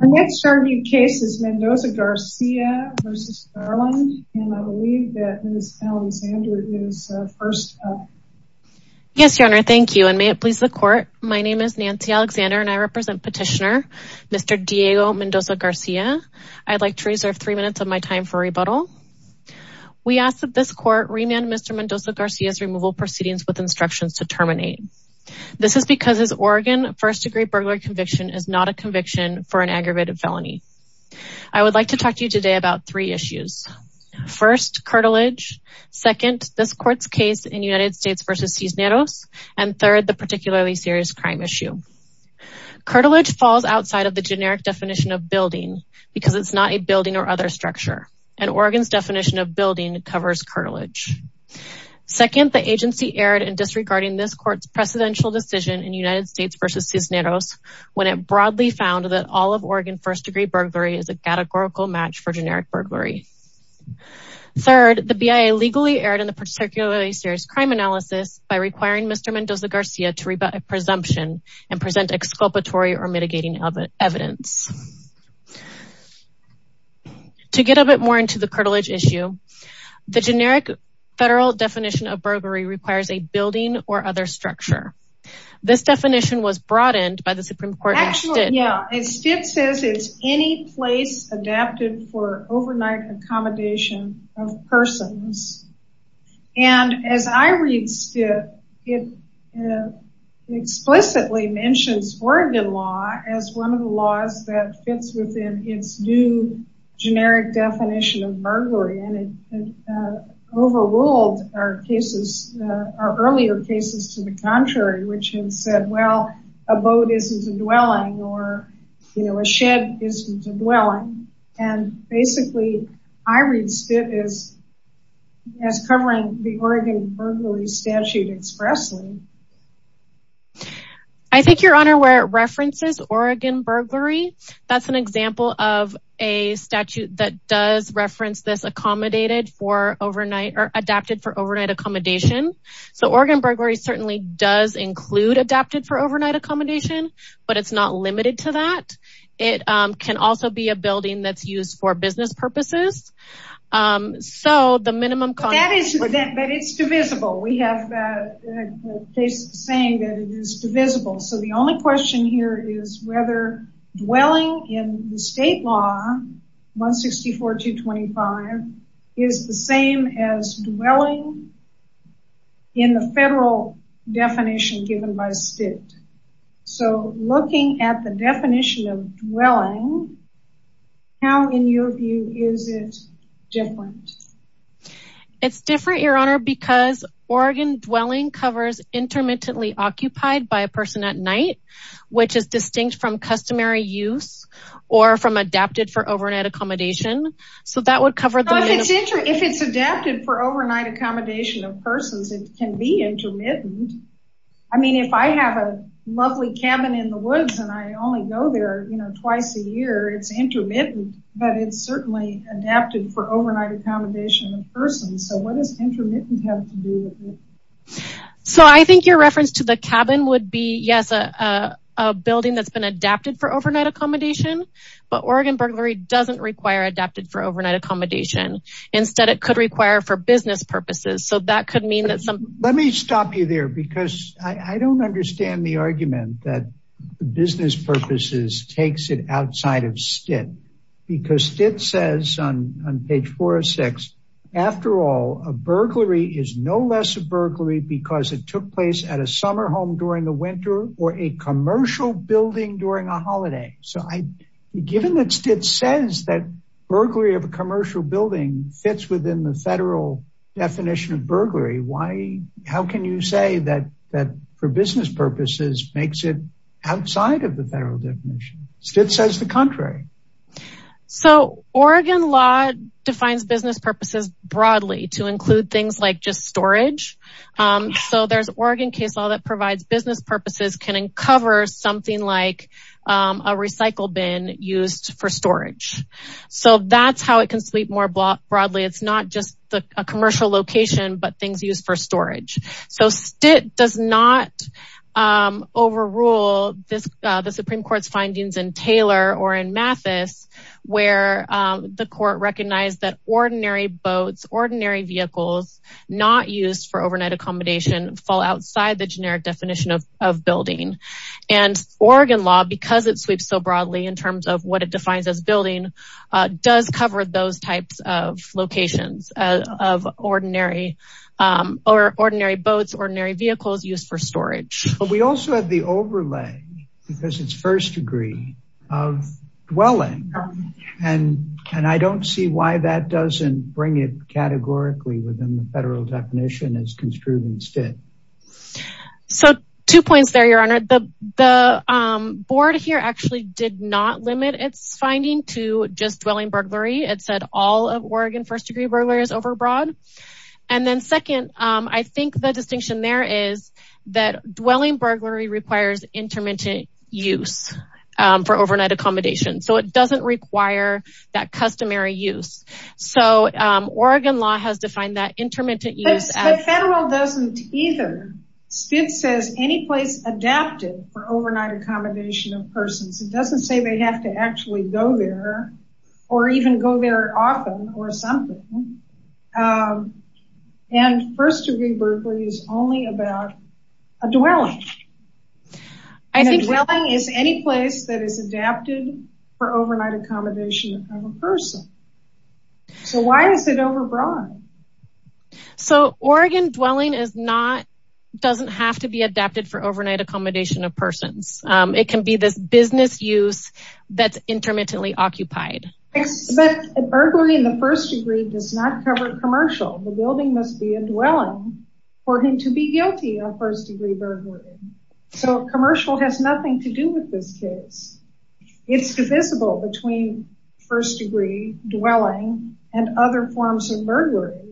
Our next argued case is Mendoza-Garcia v. Garland and I believe that Ms. Alexander is first up. Yes, your honor. Thank you and may it please the court. My name is Nancy Alexander and I represent petitioner Mr. Diego Mendoza-Garcia. I'd like to reserve three minutes of my time for rebuttal. We ask that this court remand Mr. Mendoza-Garcia's removal proceedings with instructions to terminate. This is because his Oregon first-degree burglary conviction is not a conviction for an aggravated felony. I would like to talk to you today about three issues. First, curtilage. Second, this court's case in United States v. Cisneros. And third, the particularly serious crime issue. Curtilage falls outside of the generic definition of building because it's not a building or other structure. And Oregon's definition of building covers curtilage. Second, the agency erred in disregarding this court's presidential decision in United States v. Cisneros when it broadly found that all of Oregon first-degree burglary is a categorical match for generic burglary. Third, the BIA legally erred in the particularly serious crime analysis by requiring Mr. Mendoza-Garcia to rebut a presumption and present exculpatory or mitigating evidence. To get a bit more into the curtilage issue, the generic federal definition of burglary requires a building or other structure. This definition was broadened by the Supreme Court in Stitt. Yeah, and Stitt says it's any place adapted for overnight accommodation of persons. And as I read Stitt, it explicitly mentions Oregon law as one of the laws that fits within its new generic definition of burglary. And it overruled our earlier cases to the contrary, which had said, well, a boat isn't a dwelling or a shed isn't a dwelling. And basically, I read Stitt as covering the Oregon burglary statute expressly. I think, Your Honor, where it references Oregon burglary, that's an example of a statute that does reference this adapted for overnight accommodation. So Oregon burglary certainly does include adapted for overnight accommodation, but it's not limited to that. It can also be a building that's used for business purposes. But it's divisible. We have a case saying that it is divisible. So the only question here is whether dwelling in the state law, 164-225, is the same as dwelling in the federal definition given by Stitt. So looking at the definition of dwelling, how, in your view, is it different? It's different, Your Honor, because Oregon dwelling covers intermittently occupied by a person at night, which is distinct from customary use or from adapted for overnight accommodation. If it's adapted for overnight accommodation of persons, it can be intermittent. I mean, if I have a lovely cabin in the woods and I only go there twice a year, it's intermittent. But it's certainly adapted for overnight accommodation of persons. So what does intermittent have to do with it? So I think your reference to the cabin would be, yes, a building that's been adapted for overnight accommodation. But Oregon burglary doesn't require adapted for overnight accommodation. Instead, it could require for business purposes. So that could mean that some... Let me stop you there because I don't understand the argument that business purposes takes it outside of Stitt. Because Stitt says on page 406, after all, a burglary is no less a burglary because it took place at a summer home during the winter or a commercial building during a holiday. So given that Stitt says that burglary of a commercial building fits within the federal definition of burglary, how can you say that for business purposes makes it outside of the federal definition? Stitt says the contrary. So Oregon law defines business purposes broadly to include things like just storage. So there's Oregon case law that provides business purposes can uncover something like a recycle bin used for storage. So that's how it can sweep more broadly. It's not just a commercial location, but things used for storage. So Stitt does not overrule the Supreme Court's findings in Taylor or in Mathis, where the court recognized that ordinary boats, ordinary vehicles not used for overnight accommodation fall outside the generic definition of building. And Oregon law, because it sweeps so broadly in terms of what it defines as building, does cover those types of locations of ordinary boats, ordinary vehicles used for storage. But we also have the overlay because it's first degree of dwelling. And I don't see why that doesn't bring it categorically within the federal definition as construed in Stitt. So two points there, Your Honor. The board here actually did not limit its finding to just dwelling burglary. It said all of Oregon first degree burglary is overbroad. And then second, I think the distinction there is that dwelling burglary requires intermittent use for overnight accommodation. So it doesn't require that customary use. So Oregon law has defined that intermittent use as... The federal doesn't either. Stitt says any place adapted for overnight accommodation of persons. It doesn't say they have to actually go there or even go there often or something. And first degree burglary is only about a dwelling. A dwelling is any place that is adapted for overnight accommodation of a person. So why is it overbroad? So Oregon dwelling doesn't have to be adapted for overnight accommodation of persons. It can be this business use that's intermittently occupied. But burglary in the first degree does not cover commercial. The building must be a dwelling for him to be guilty of first degree burglary. So commercial has nothing to do with this case. It's divisible between first degree dwelling and other forms of burglary.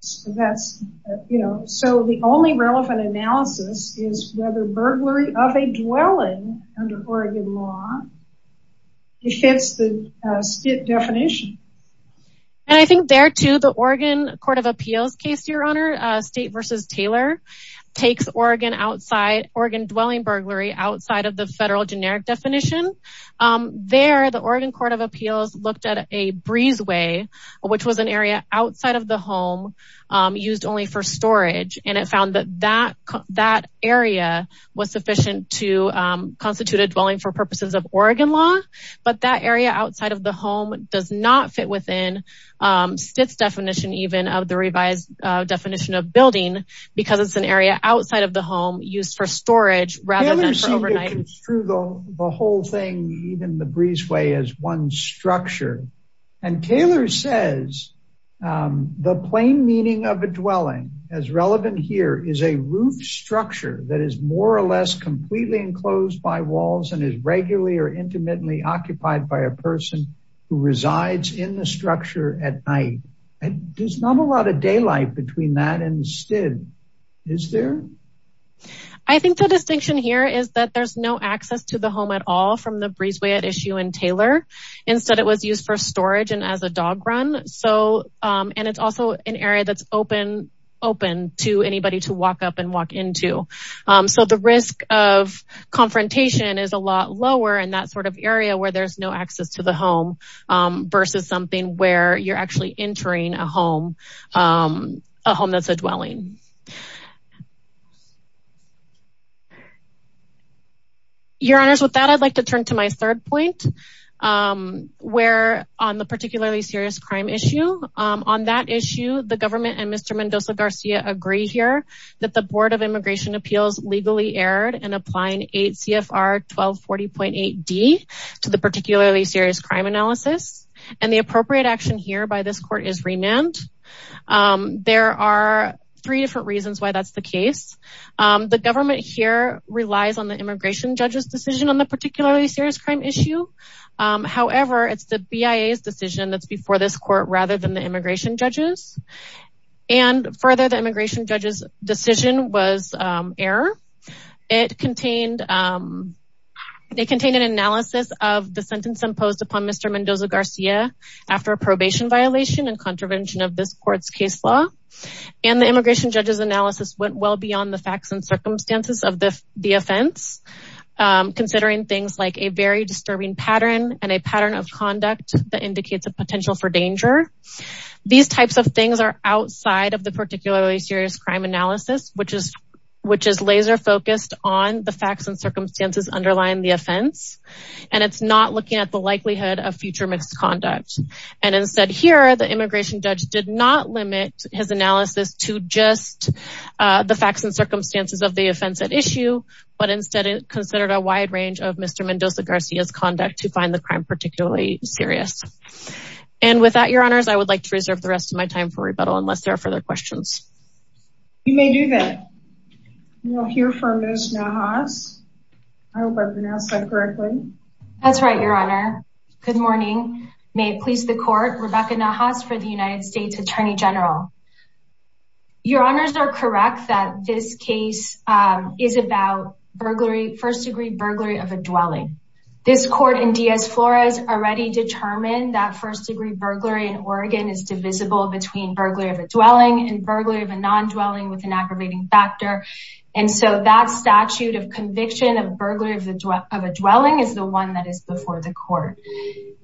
So the only relevant analysis is whether burglary of a dwelling under Oregon law fits the definition. And I think there to the Oregon Court of Appeals case, Your Honor, State versus Taylor takes Oregon dwelling burglary outside of the federal generic definition. There, the Oregon Court of Appeals looked at a breezeway, which was an area outside of the home used only for storage. And it found that that area was sufficient to constitute a dwelling for purposes of Oregon law. But that area outside of the home does not fit within Stitt's definition, even of the revised definition of building, because it's an area outside of the home used for storage rather than for overnight. Taylor seemed to construe the whole thing, even the breezeway as one structure. And Taylor says the plain meaning of a dwelling as relevant here is a roof structure that is more or less completely enclosed by walls and is regularly or intimately occupied by a person who resides in the structure at night. There's not a lot of daylight between that and the STID, is there? I think the distinction here is that there's no access to the home at all from the breezeway at issue in Taylor. Instead, it was used for storage and as a dog run. So and it's also an area that's open, open to anybody to walk up and walk into. So the risk of confrontation is a lot lower in that sort of area where there's no access to the home versus something where you're actually entering a home, a home that's a dwelling. Your honors, with that, I'd like to turn to my third point, where on the particularly serious crime issue on that issue, the government and Mr. Mendoza-Garcia agree here that the Board of Immigration Appeals legally erred in applying 8 CFR 1240.8D to the particularly serious crime analysis. And the appropriate action here by this court is remand. There are three different reasons why that's the case. The government here relies on the immigration judge's decision on the particularly serious crime issue. However, it's the BIA's decision that's before this court rather than the immigration judges. And further, the immigration judge's decision was error. It contained they contained an analysis of the sentence imposed upon Mr. Mendoza-Garcia after a probation violation and contravention of this court's case law. And the immigration judge's analysis went well beyond the facts and circumstances of the offense, considering things like a very disturbing pattern and a pattern of conduct that indicates a potential for danger. These types of things are outside of the particularly serious crime analysis, which is laser focused on the facts and circumstances underlying the offense. And it's not looking at the likelihood of future misconduct. And instead here, the immigration judge did not limit his analysis to just the facts and circumstances of the offense at issue, but instead considered a wide range of Mr. Mendoza-Garcia's conduct to find the crime particularly serious. And with that, Your Honors, I would like to reserve the rest of my time for rebuttal unless there are further questions. You may do that. We'll hear from Ms. Nahas. I hope I pronounced that correctly. That's right, Your Honor. Good morning. May it please the court, Rebecca Nahas for the United States Attorney General. Your Honors are correct that this case is about first degree burglary of a dwelling. This court in Diaz-Flores already determined that first degree burglary in Oregon is divisible between burglary of a dwelling and burglary of a non-dwelling with an aggravating factor. And so that statute of conviction of burglary of a dwelling is the one that is before the court.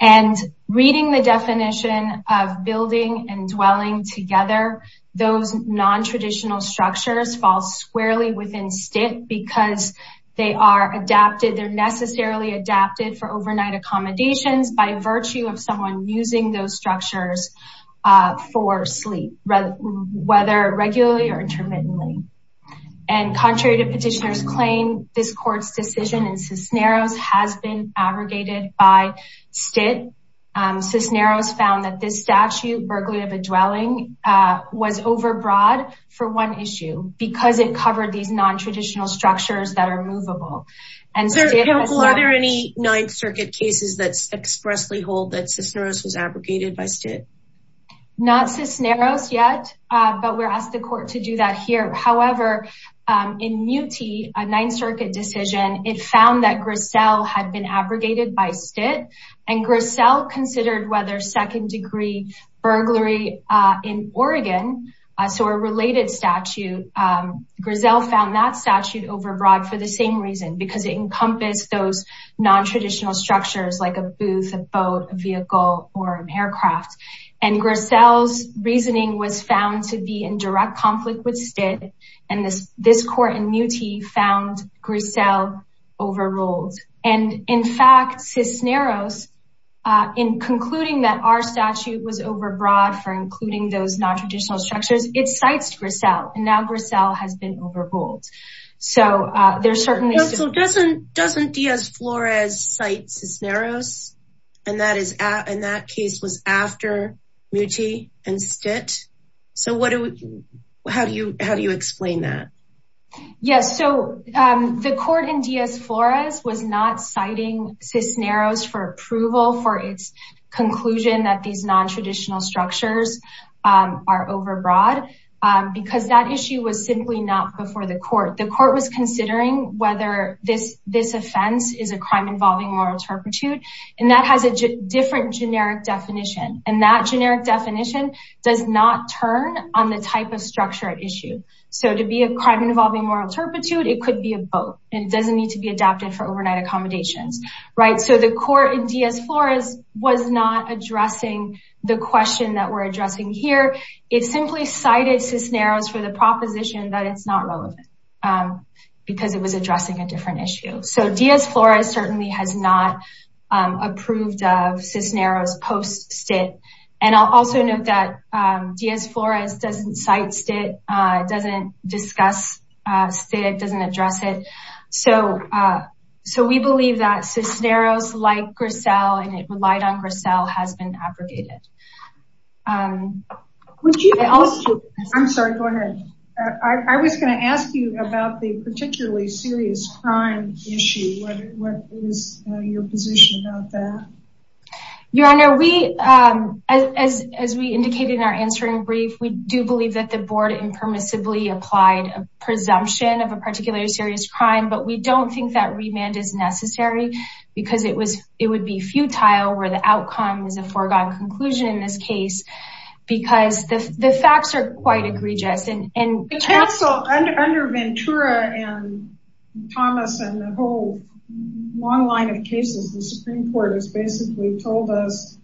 And reading the definition of building and dwelling together, those non-traditional structures fall squarely within stick because they are adapted. They're necessarily adapted for overnight accommodations by virtue of someone using those structures for sleep, whether regularly or intermittently. And contrary to petitioners claim, this court's decision in Cisneros has been abrogated by STIT. Cisneros found that this statute, burglary of a dwelling, was overbroad for one issue because it covered these non-traditional structures that are movable. Counsel, are there any Ninth Circuit cases that expressly hold that Cisneros was abrogated by STIT? Not Cisneros yet, but we're asked the court to do that here. However, in Muti, a Ninth Circuit decision, it found that Griselle had been abrogated by STIT and Griselle considered whether second degree burglary in Oregon. So a related statute, Griselle found that statute overbroad for the same reason, because it encompassed those non-traditional structures like a booth, a boat, a vehicle, or an aircraft. And Griselle's reasoning was found to be in direct conflict with STIT, and this court in Muti found Griselle overruled. And in fact, Cisneros, in concluding that our statute was overbroad for including those non-traditional structures, it cites Griselle, and now Griselle has been overruled. Counsel, doesn't Diaz-Flores cite Cisneros, and that case was after Muti and STIT? So how do you explain that? Yes, so the court in Diaz-Flores was not citing Cisneros for approval for its conclusion that these non-traditional structures are overbroad, because that issue was simply not before the court. The court was considering whether this offense is a crime involving moral turpitude, and that has a different generic definition, and that generic definition does not turn on the type of structure at issue. So to be a crime involving moral turpitude, it could be a boat, and it doesn't need to be adapted for overnight accommodations. So the court in Diaz-Flores was not addressing the question that we're addressing here. It simply cited Cisneros for the proposition that it's not relevant, because it was addressing a different issue. So Diaz-Flores certainly has not approved of Cisneros post-STIT. And I'll also note that Diaz-Flores doesn't cite STIT, doesn't discuss STIT, doesn't address it. So we believe that Cisneros, like Grisel, and it relied on Grisel, has been abrogated. I'm sorry, go ahead. I was going to ask you about the particularly serious crime issue. What is your position about that? Your Honor, as we indicated in our answering brief, we do believe that the board impermissibly applied a presumption of a particularly serious crime. But we don't think that remand is necessary, because it would be futile where the outcome is a foregone conclusion in this case, because the facts are quite egregious. Under Ventura and Thomas and the whole long line of cases, the Supreme Court has basically told us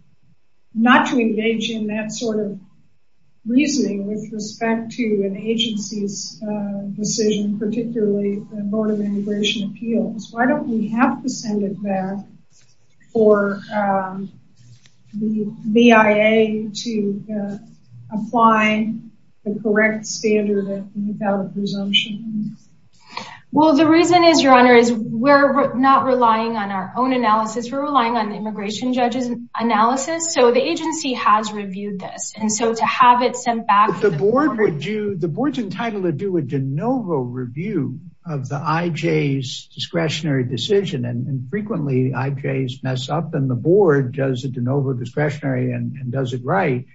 not to engage in that sort of reasoning with respect to an agency's decision, particularly the Board of Immigration Appeals. Why don't we have to send it back for the BIA to apply the correct standard of invalid presumption? Well, the reason is, Your Honor, is we're not relying on our own analysis. We're relying on the immigration judge's analysis. So the agency has reviewed this. The board's entitled to do a de novo review of the IJ's discretionary decision. And frequently IJs mess up and the board does a de novo discretionary and does it right.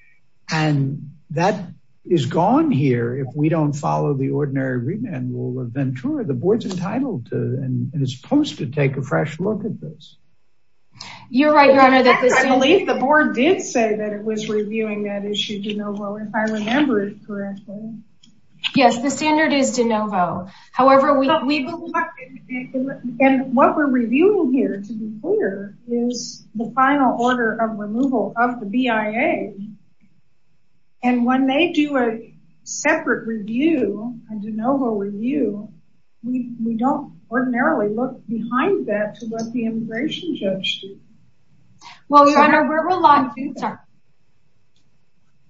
And that is gone here if we don't follow the ordinary remand rule of Ventura. The board's entitled to and is supposed to take a fresh look at this. You're right, Your Honor. I believe the board did say that it was reviewing that issue de novo, if I remember it correctly. Yes, the standard is de novo. And what we're reviewing here, to be clear, is the final order of removal of the BIA. And when they do a separate review, a de novo review, we don't ordinarily look behind that to what the immigration judge did. Well, Your Honor,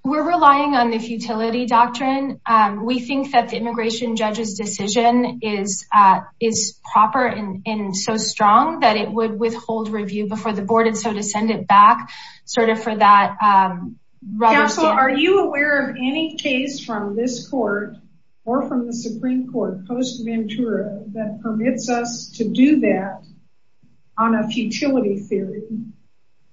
we're relying on the futility doctrine. We think that the immigration judge's decision is proper and so strong that it would withhold review before the board. And so to send it back, sort of for that... Counsel, are you aware of any case from this court or from the Supreme Court post-Ventura that permits us to do that on a futility theory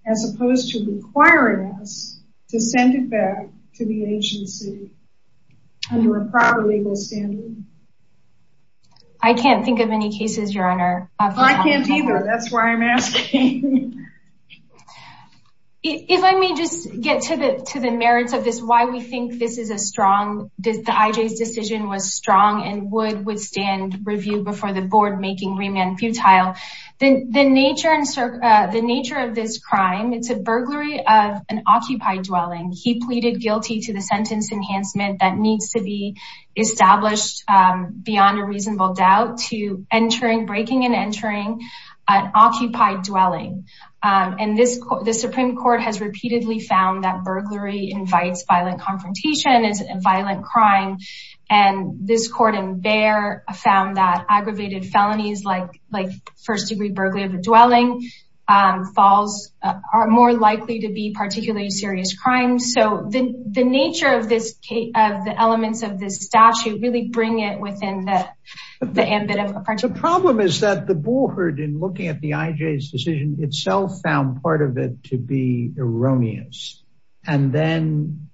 as opposed to requiring us to send it back to the agency under a proper legal standard? I can't think of any cases, Your Honor. Well, I can't either. That's why I'm asking. If I may just get to the merits of this, why we think this is a strong... The IJ's decision was strong and would withstand review before the board, making remand futile. The nature of this crime, it's a burglary of an occupied dwelling. He pleaded guilty to the sentence enhancement that needs to be established beyond a reasonable doubt to breaking and entering an occupied dwelling. And the Supreme Court has repeatedly found that burglary invites violent confrontation, is a violent crime. And this court in Bexar found that aggravated felonies like first-degree burglary of a dwelling are more likely to be particularly serious crimes. So the nature of the elements of this statute really bring it within the ambit of... The problem is that the board in looking at the IJ's decision itself found part of it to be erroneous and then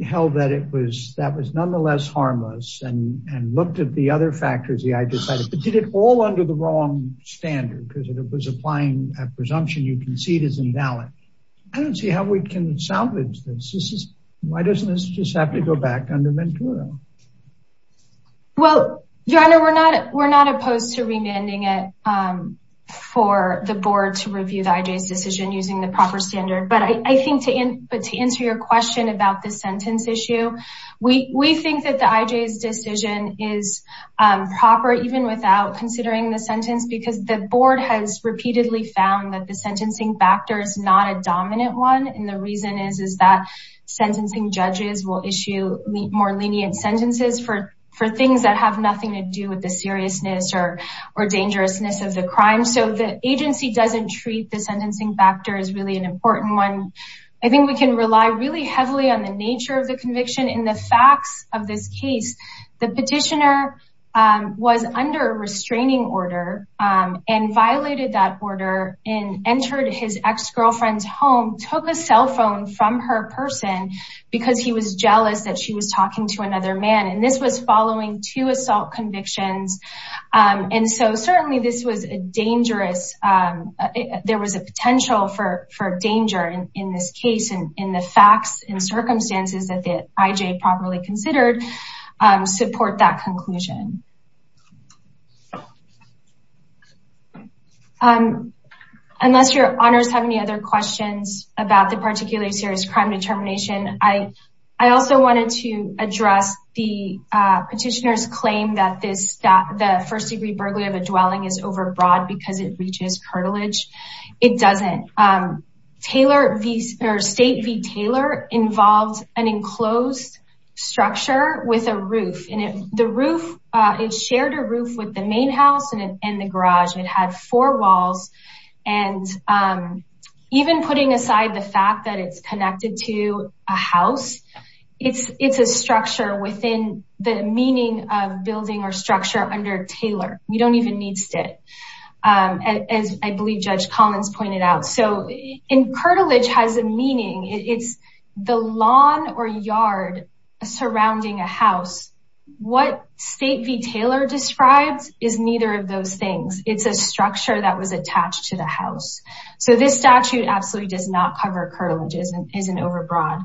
held that it was nonetheless harmless and looked at the other factors. The IJ did it all under the wrong standard because it was applying a presumption you concede is invalid. I don't see how we can salvage this. Why doesn't this just have to go back under Ventura? Well, Your Honor, we're not opposed to remanding it for the board to review the IJ's decision using the proper standard. But I think to answer your question about the sentence issue, we think that the IJ's decision is proper even without considering the sentence because the board has repeatedly found that the sentencing factor is not a dominant one. And the reason is that sentencing judges will issue more lenient sentences for things that have nothing to do with the seriousness or dangerousness of the crime. So the agency doesn't treat the sentencing factor as really an important one. I think we can rely really heavily on the nature of the conviction in the facts of this case. The petitioner was under a restraining order and violated that order and entered his ex-girlfriend's home, took a cell phone from her person because he was jealous that she was talking to another man. And this was following two assault convictions. And so certainly this was dangerous. There was a potential for danger in this case and in the facts and circumstances that the IJ properly considered. Support that conclusion. Unless your honors have any other questions about the particularly serious crime determination, I also wanted to address the petitioner's claim that the first degree burglary of a dwelling is overbroad because it reaches cartilage. It doesn't. State v. Taylor involved an enclosed structure with a roof. It shared a roof with the main house and the garage. It had four walls. And even putting aside the fact that it's connected to a house, it's a structure within the meaning of building or structure under Taylor. We don't even need STIT, as I believe Judge Collins pointed out. So cartilage has a meaning. It's the lawn or yard surrounding a house. What state v. Taylor describes is neither of those things. It's a structure that was attached to the house. So this statute absolutely does not cover cartilage and isn't overbroad.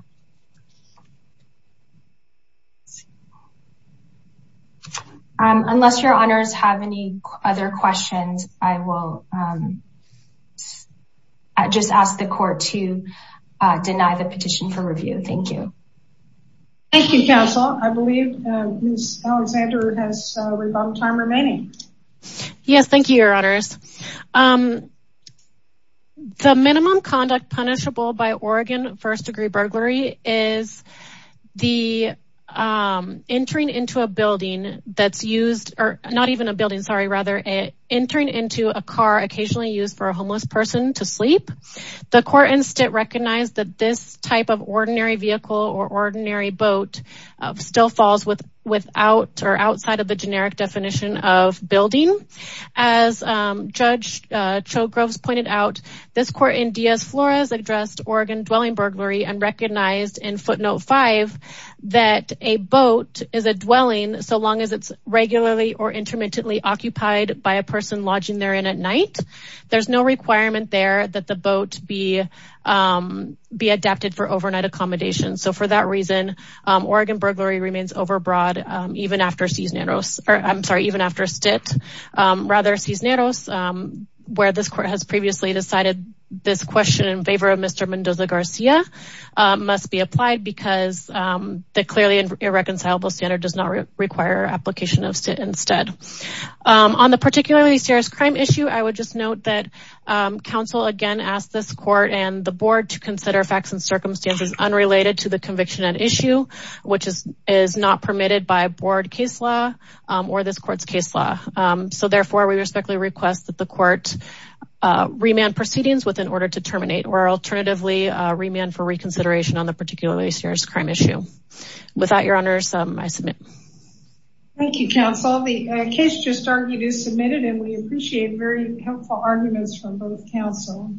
Unless your honors have any other questions, I will just ask the court to deny the petition for review. Thank you. Thank you, counsel. I believe Ms. Alexander has time remaining. Yes. Thank you, your honors. The minimum conduct punishable by Oregon first-degree burglary is the entering into a building that's used, or not even a building, sorry, rather, entering into a car occasionally used for a homeless person to sleep. The court in STIT recognized that this type of ordinary vehicle or ordinary boat still falls without or outside of the generic definition of building. As Judge Cho-Groves pointed out, this court in Diaz-Flores addressed Oregon dwelling burglary and recognized in footnote 5 that a boat is a dwelling so long as it's regularly or intermittently occupied by a person lodging therein at night. There's no requirement there that the boat be adapted for overnight accommodation. So for that reason, Oregon burglary remains overbroad even after Cisneros, I'm sorry, even after STIT. Rather, Cisneros, where this court has previously decided this question in favor of Mr. Mendoza-Garcia must be applied because the clearly irreconcilable standard does not require application of STIT instead. On the particularly serious crime issue, I would just note that counsel again asked this court and the board to consider facts and circumstances unrelated to the conviction at issue, which is not permitted by board case law or this court's case law. So therefore, we respectfully request that the court remand proceedings within order to terminate or alternatively remand for reconsideration on the particularly serious crime issue. With that, your honors, I submit. Thank you, counsel. The case just argued is submitted and we appreciate very helpful arguments from both counsel.